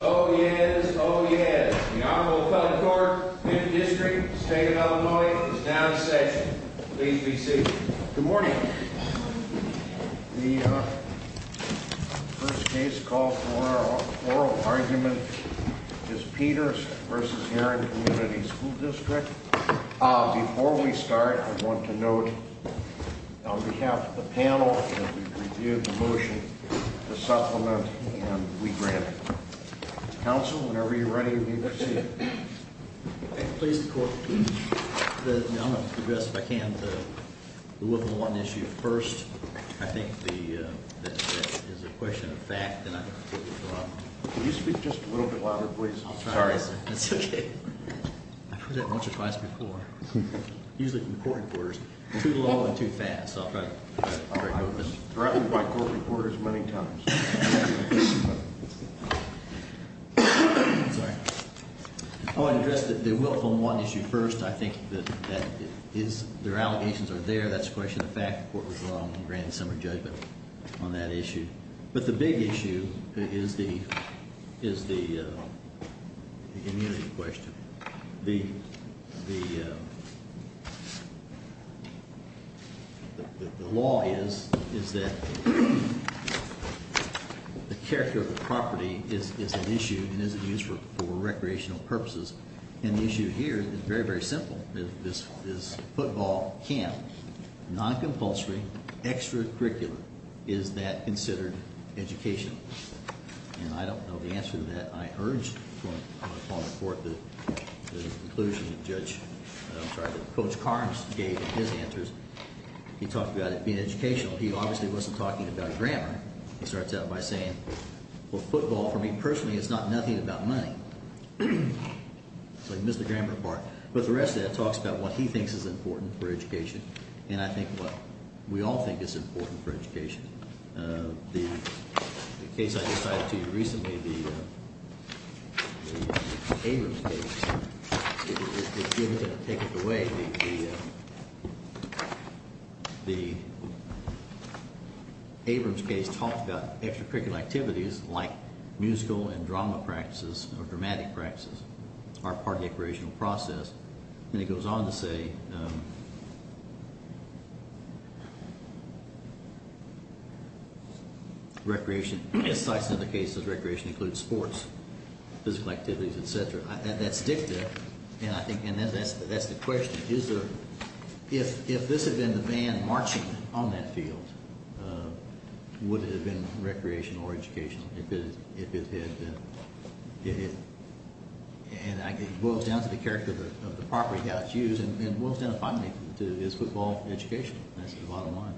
Oh yes, oh yes, the Honorable Appellate Court, 5th District, State of Illinois, is now in session. Please be seated. Good morning. The first case called for oral argument is Peters v. Herrin Community School District. Before we start, I want to note, on behalf of the panel, that we've reviewed the motion, the supplement, and we grant it. Counsel, whenever you're ready, be seated. Please, the Court, I'm going to address, if I can, the Woven 1 issue first. I think that is a question of fact, and I'm going to put it to Rob. Could you speak just a little bit louder, please? Sorry, sir. That's okay. I've heard that a bunch of times before. Usually from the court reporters. Too long and too fast. I've been threatened by court reporters many times. Sorry. I want to address the Woven 1 issue first. I think that their allegations are there. That's a question of fact. The Court was wrong in the grand summary judgment on that issue. But the big issue is the immunity question. The law is that the character of the property is an issue and is in use for recreational purposes. And the issue here is very, very simple. Is football camp non-compulsory, extracurricular? Is that considered educational? And I don't know the answer to that. I urge the conclusion that Judge, I'm sorry, that Coach Carnes gave in his answers. He talked about it being educational. He obviously wasn't talking about grammar. He starts out by saying, well, football, for me personally, is not nothing but money. So he missed the grammar part. But the rest of that talks about what he thinks is important for education. And I think what we all think is important for education. The case I just cited to you recently, the Abrams case, is given to take it away. The Abrams case talked about extracurricular activities like musical and drama practices or dramatic practices are part of the operational process. And it goes on to say recreation, as cited in other cases, recreation includes sports, physical activities, et cetera. That's dicta. And I think that's the question. If this had been the band marching on that field, would it have been recreational or educational? And it boils down to the character of the property that's used and boils down to, finally, is football educational? That's the bottom line.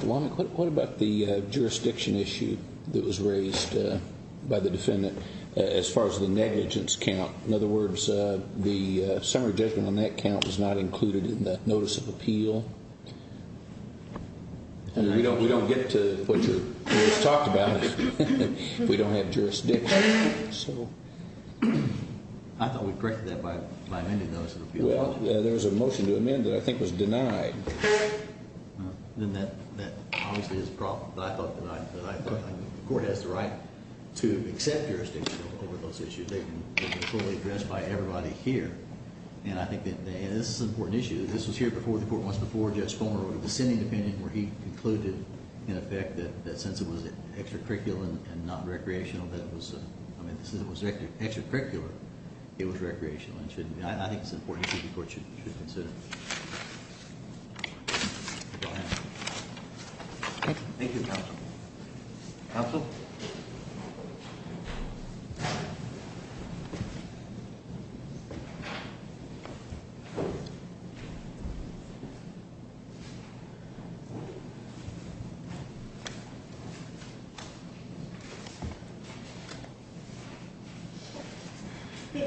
What about the jurisdiction issue that was raised by the defendant as far as the negligence count? In other words, the summary judgment on that count was not included in the notice of appeal. We don't get to what was talked about if we don't have jurisdiction. I thought we corrected that by amending the notice of appeal. Well, there was a motion to amend that I think was denied. Then that obviously is a problem. But I thought the court has the right to accept jurisdiction over those issues. They can be fully addressed by everybody here. And I think that this is an important issue. This was here before the court once before. Judge Fulmer wrote a dissenting opinion where he concluded, in effect, that since it was extracurricular and not recreational, that it was, I mean, since it was extracurricular, it was recreational. And I think it's an important issue the court should consider. Thank you, counsel. Counsel? Thank you.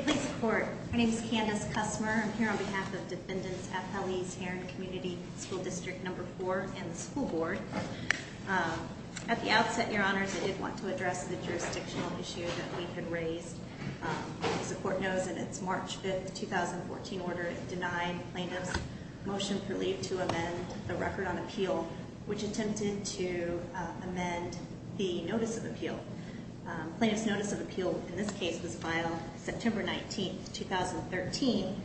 Please support. My name is Candace Cussmer. I'm here on behalf of Defendants Appellees here in Community School District No. 4 and the school board. At the outset, Your Honors, I did want to address the jurisdictional issue that we had raised. As the court knows, in its March 5, 2014 order, it denied plaintiff's motion to amend the Record on Appeal, which attempted to amend the Notice of Appeal. Plaintiff's Notice of Appeal in this case was filed September 19, 2013.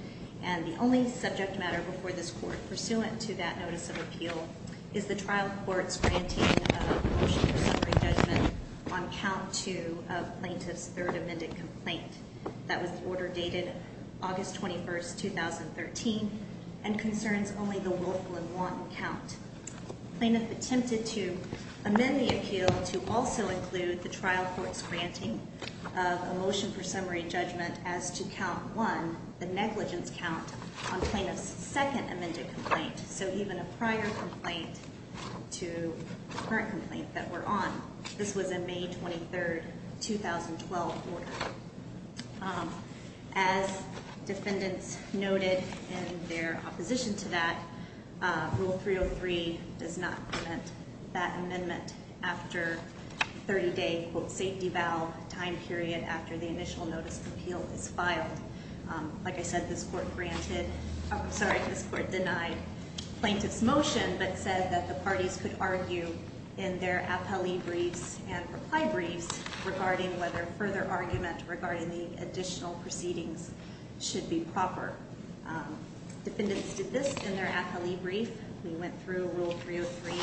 And the only subject matter before this court pursuant to that Notice of Appeal is the trial court's granting of a motion for summary judgment on count 2 of plaintiff's third amended complaint. That was the order dated August 21, 2013, and concerns only the Wolfland 1 count. Plaintiff attempted to amend the appeal to also include the trial court's granting of a motion for summary judgment as to count 1, the negligence count, on plaintiff's second amended complaint. So even a prior complaint to the current complaint that we're on, this was a May 23, 2012 order. As defendants noted in their opposition to that, Rule 303 does not prevent that amendment after a 30-day, quote, safety valve time period after the initial Notice of Appeal is filed. Like I said, this court granted—I'm sorry, this court denied plaintiff's motion but said that the parties could argue in their appellee briefs and reply briefs regarding whether further argument regarding the additional proceedings should be proper. Defendants did this in their appellee brief. We went through Rule 303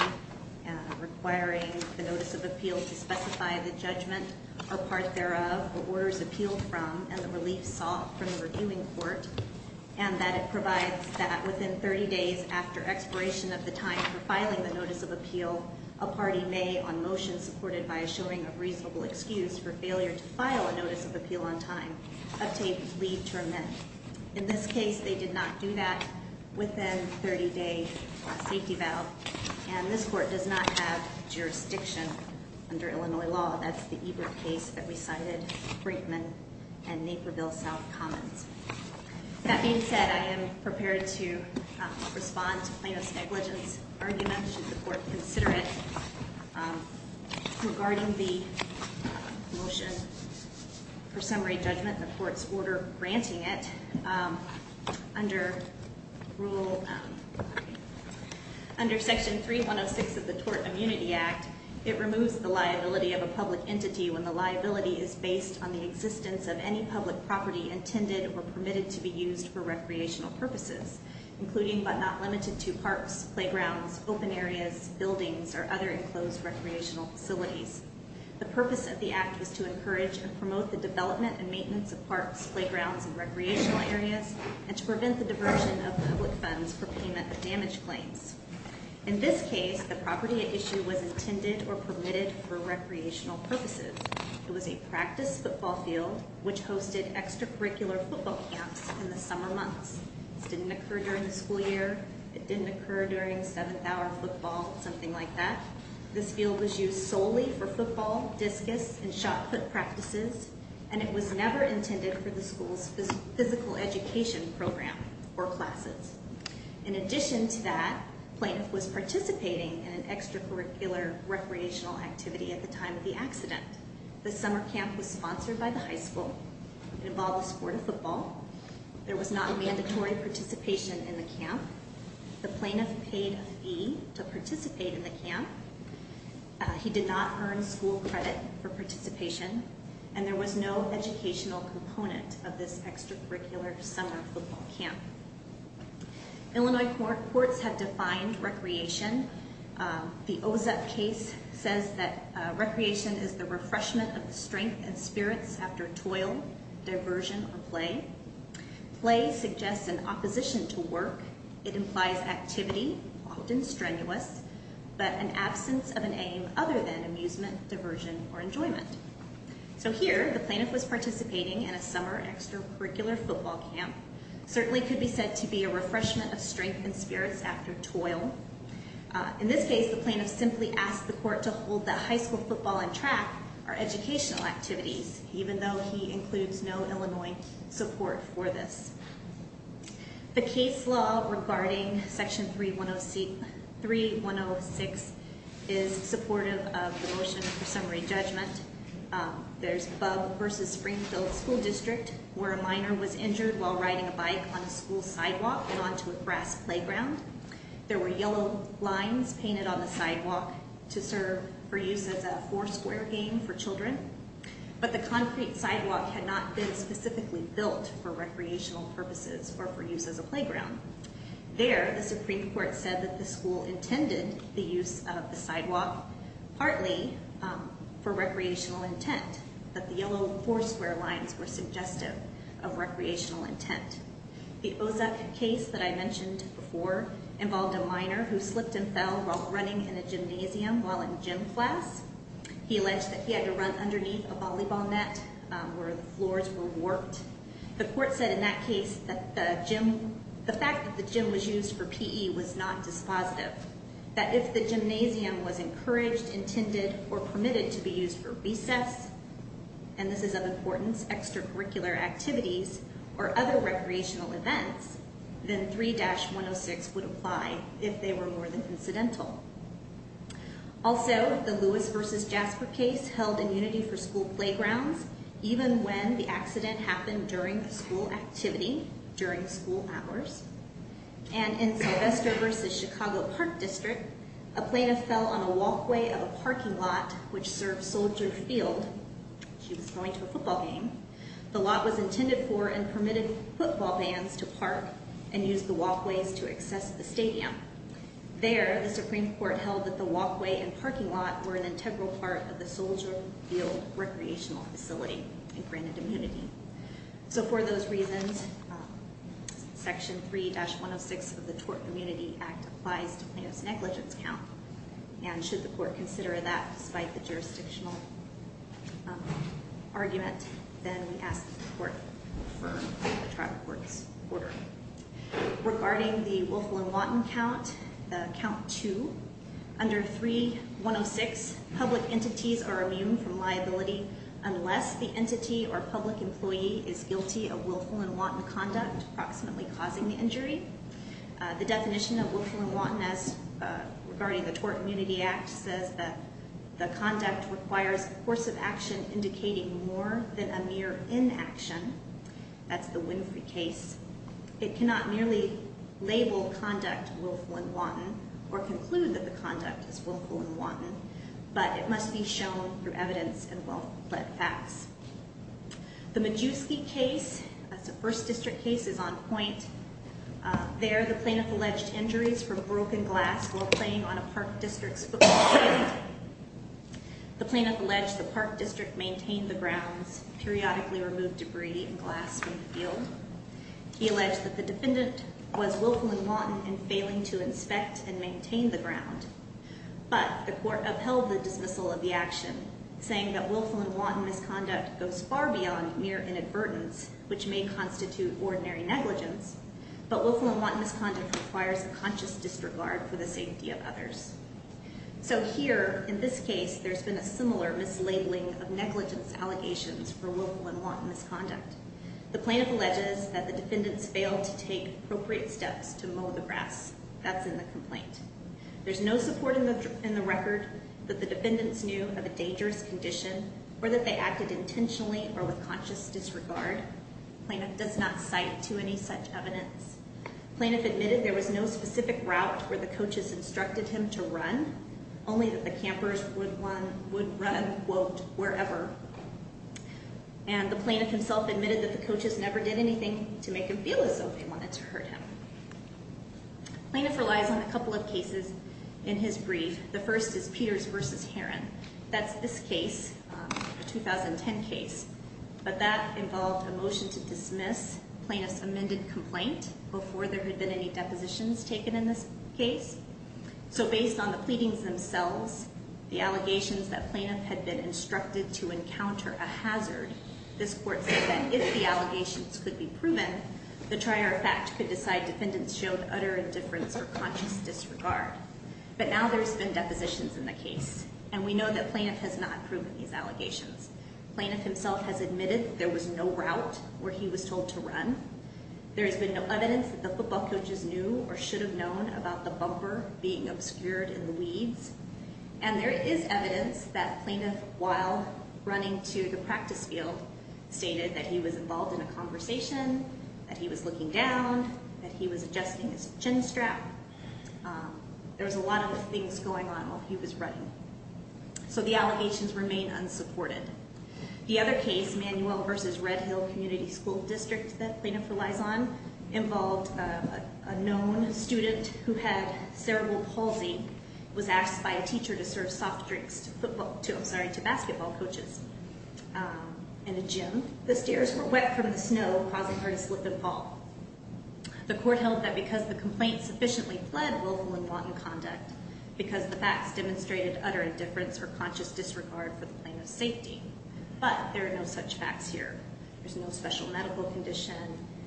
requiring the Notice of Appeal to specify the judgment or part thereof what orders appealed from and the relief sought from the reviewing court and that it provides that within 30 days after expiration of the time for filing the Notice of Appeal, a party may, on motion supported by a showing of reasonable excuse for failure to file a Notice of Appeal on time, uptake, leave to amend. In this case, they did not do that within a 30-day safety valve, and this court does not have jurisdiction under Illinois law. That's the Ebert case that we cited, Brinkman and Naperville South Commons. That being said, I am prepared to respond to plaintiff's negligence argument, should the court consider it. Regarding the motion for summary judgment, the court's order granting it, under Rule—under Section 3106 of the Tort Immunity Act, it removes the liability of a public entity when the liability is based on the existence of any public property intended or permitted to be used for recreational purposes, including but not limited to parks, playgrounds, open areas, buildings, or other enclosed recreational facilities. The purpose of the Act was to encourage and promote the development and maintenance of parks, playgrounds, and recreational areas, and to prevent the diversion of public funds for payment of damage claims. In this case, the property at issue was intended or permitted for recreational purposes. It was a practice football field which hosted extracurricular football camps in the summer months. This didn't occur during the school year. It didn't occur during seventh-hour football, something like that. This field was used solely for football, discus, and shot-put practices, and it was never intended for the school's physical education program or classes. In addition to that, plaintiff was participating in an extracurricular recreational activity at the time of the accident. The summer camp was sponsored by the high school. It involved the sport of football. There was not mandatory participation in the camp. The plaintiff paid a fee to participate in the camp. He did not earn school credit for participation, and there was no educational component of this extracurricular summer football camp. Illinois courts have defined recreation. The OSEP case says that recreation is the refreshment of strength and spirits after toil, diversion, or play. Play suggests an opposition to work. It implies activity, often strenuous, but an absence of an aim other than amusement, diversion, or enjoyment. So here, the plaintiff was participating in a summer extracurricular football camp. It certainly could be said to be a refreshment of strength and spirits after toil. In this case, the plaintiff simply asked the court to hold that high school football and track are educational activities, even though he includes no Illinois support for this. The case law regarding Section 3106 is supportive of the motion for summary judgment. There's Bub versus Springfield School District, where a minor was injured while riding a bike on a school sidewalk and onto a grass playground. There were yellow lines painted on the sidewalk to serve for use as a four-square game for children, but the concrete sidewalk had not been specifically built for recreational purposes or for use as a playground. There, the Supreme Court said that the school intended the use of the sidewalk, partly for recreational intent, that the yellow four-square lines were suggestive of recreational intent. The Ozuck case that I mentioned before involved a minor who slipped and fell while running in a gymnasium while in gym class. He alleged that he had to run underneath a volleyball net where the floors were warped. The court said in that case that the fact that the gym was used for PE was not dispositive, that if the gymnasium was encouraged, intended, or permitted to be used for recess, and this is of importance, extracurricular activities or other recreational events, then 3-106 would apply if they were more than incidental. Also, the Lewis versus Jasper case held in unity for school playgrounds, even when the accident happened during the school activity, during school hours. And in Sylvester versus Chicago Park District, a plaintiff fell on a walkway of a parking lot which served Soldier Field. She was going to a football game. The lot was intended for and permitted football bands to park and use the walkways to access the stadium. There, the Supreme Court held that the walkway and parking lot were an integral part of the Soldier Field recreational facility and granted immunity. So for those reasons, Section 3-106 of the Tort Immunity Act applies to plaintiff's negligence count, and should the court consider that despite the jurisdictional argument, then we ask that the court confirm the trial court's order. Regarding the Wolfel and Watten count, the count two, under 3-106, public entities are immune from liability unless the entity or public employee is guilty of Wolfel and Watten conduct, approximately causing the injury. The definition of Wolfel and Watten as, regarding the Tort Immunity Act, says that the conduct requires force of action indicating more than a mere inaction. That's the Winfrey case. It cannot merely label conduct Wolfel and Watten or conclude that the conduct is Wolfel and Watten, but it must be shown through evidence and well-led facts. The Majewski case, that's a 1st District case, is on point. There, the plaintiff alleged injuries from broken glass while playing on a Park District football field. The plaintiff alleged the Park District maintained the grounds, periodically removed debris and glass from the field. He alleged that the defendant was Wolfel and Watten in failing to inspect and maintain the ground. But the court upheld the dismissal of the action, saying that Wolfel and Watten misconduct goes far beyond mere inadvertence, which may constitute ordinary negligence, but Wolfel and Watten misconduct requires a conscious disregard for the safety of others. So here, in this case, there's been a similar mislabeling of negligence allegations for Wolfel and Watten misconduct. The plaintiff alleges that the defendants failed to take appropriate steps to mow the grass. That's in the complaint. There's no support in the record that the defendants knew of a dangerous condition or that they acted intentionally or with conscious disregard. The plaintiff does not cite to any such evidence. The plaintiff admitted there was no specific route where the coaches instructed him to run, only that the campers would run, quote, wherever. And the plaintiff himself admitted that the coaches never did anything to make him feel as though they wanted to hurt him. Plaintiff relies on a couple of cases in his brief. The first is Peters v. Herron. That's this case, a 2010 case, but that involved a motion to dismiss plaintiff's amended complaint before there had been any depositions taken in this case. So based on the pleadings themselves, the allegations that plaintiff had been instructed to encounter a hazard, this court said that if the allegations could be proven, the trier of fact could decide defendants showed utter indifference or conscious disregard. But now there's been depositions in the case, and we know that plaintiff has not proven these allegations. Plaintiff himself has admitted there was no route where he was told to run. There has been no evidence that the football coaches knew or should have known about the bumper being obscured in the weeds. And there is evidence that plaintiff, while running to the practice field, stated that he was involved in a conversation, that he was looking down, that he was adjusting his chin strap. There was a lot of things going on while he was running. So the allegations remain unsupported. The other case, Manuel v. Red Hill Community School District that plaintiff relies on, involved a known student who had cerebral palsy, was asked by a teacher to serve soft drinks to basketball coaches in a gym. The stairs were wet from the snow, causing her to slip and fall. The court held that because the complaint sufficiently fled willful and wanton conduct, because the facts demonstrated utter indifference or conscious disregard for the plaintiff's safety. But there are no such facts here. There's no special medical condition.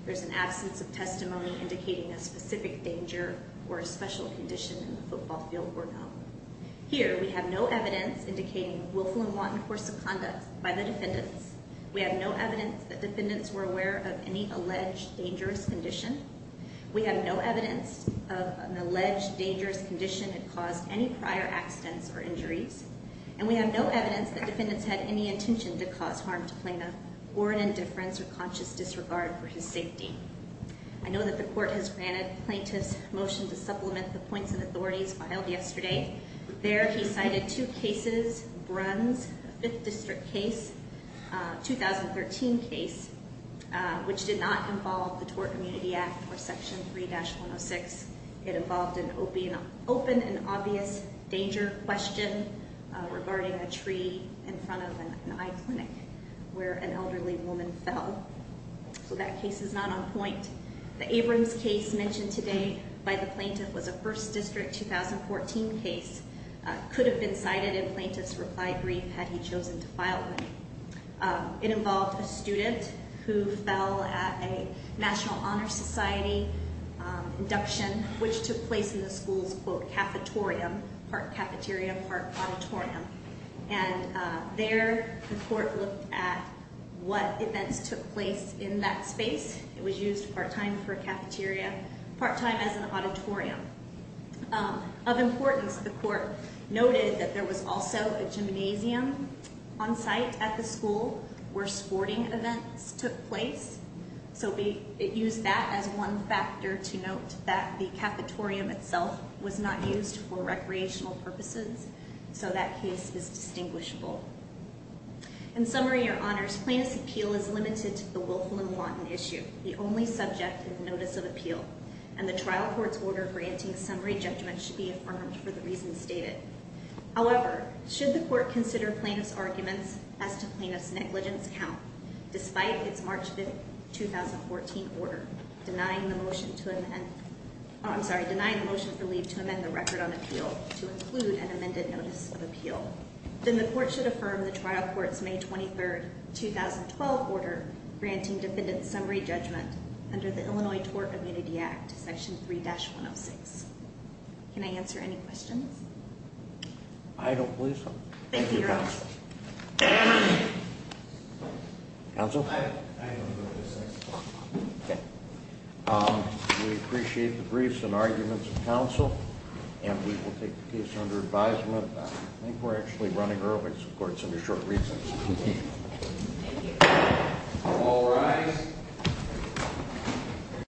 There's an absence of testimony indicating a specific danger or a special condition in the football field were known. Here, we have no evidence indicating willful and wanton course of conduct by the defendants. We have no evidence that defendants were aware of any alleged dangerous condition. We have no evidence of an alleged dangerous condition that caused any prior accidents or injuries. And we have no evidence that defendants had any intention to cause harm to Plano or an indifference or conscious disregard for his safety. I know that the court has granted the plaintiff's motion to supplement the points and authorities filed yesterday. There, he cited two cases, Bruns, the 5th District case, 2013 case, which did not involve the Tort Community Act or Section 3-106. It involved an open and obvious danger question regarding a tree in front of an eye clinic where an elderly woman fell. So that case is not on point. The Abrams case mentioned today by the plaintiff was a 1st District, 2014 case, could have been cited if plaintiffs replied brief had he chosen to file them. It involved a student who fell at a National Honor Society induction, which took place in the school's, quote, cafetorium, part cafeteria, part auditorium. And there, the court looked at what events took place in that space. It was used part time for a cafeteria, part time as an auditorium. Of importance, the court noted that there was also a gymnasium on site at the school where sporting events took place. So it used that as one factor to note that the cafetorium itself was not used for recreational purposes. So that case is distinguishable. In summary, Your Honors, plaintiff's appeal is limited to the Wilflin-Lawton issue. The only subject is notice of appeal. And the trial court's order granting summary judgment should be affirmed for the reasons stated. However, should the court consider plaintiff's arguments as to plaintiff's negligence count, despite its March 5, 2014 order denying the motion for leave to amend the record on appeal to include an amended notice of appeal, then the court should affirm the trial court's May 23, 2012 order granting defendant's summary judgment under the Illinois Tort Ability Act, section 3-106. Can I answer any questions? I don't believe so. Thank you, Your Honors. Thank you, counsel. Counsel? I don't know what to say. Okay. We appreciate the briefs and arguments of counsel. And we will take the case under advisement. I think we're actually running early, of course, under short recess. Thank you. All rise.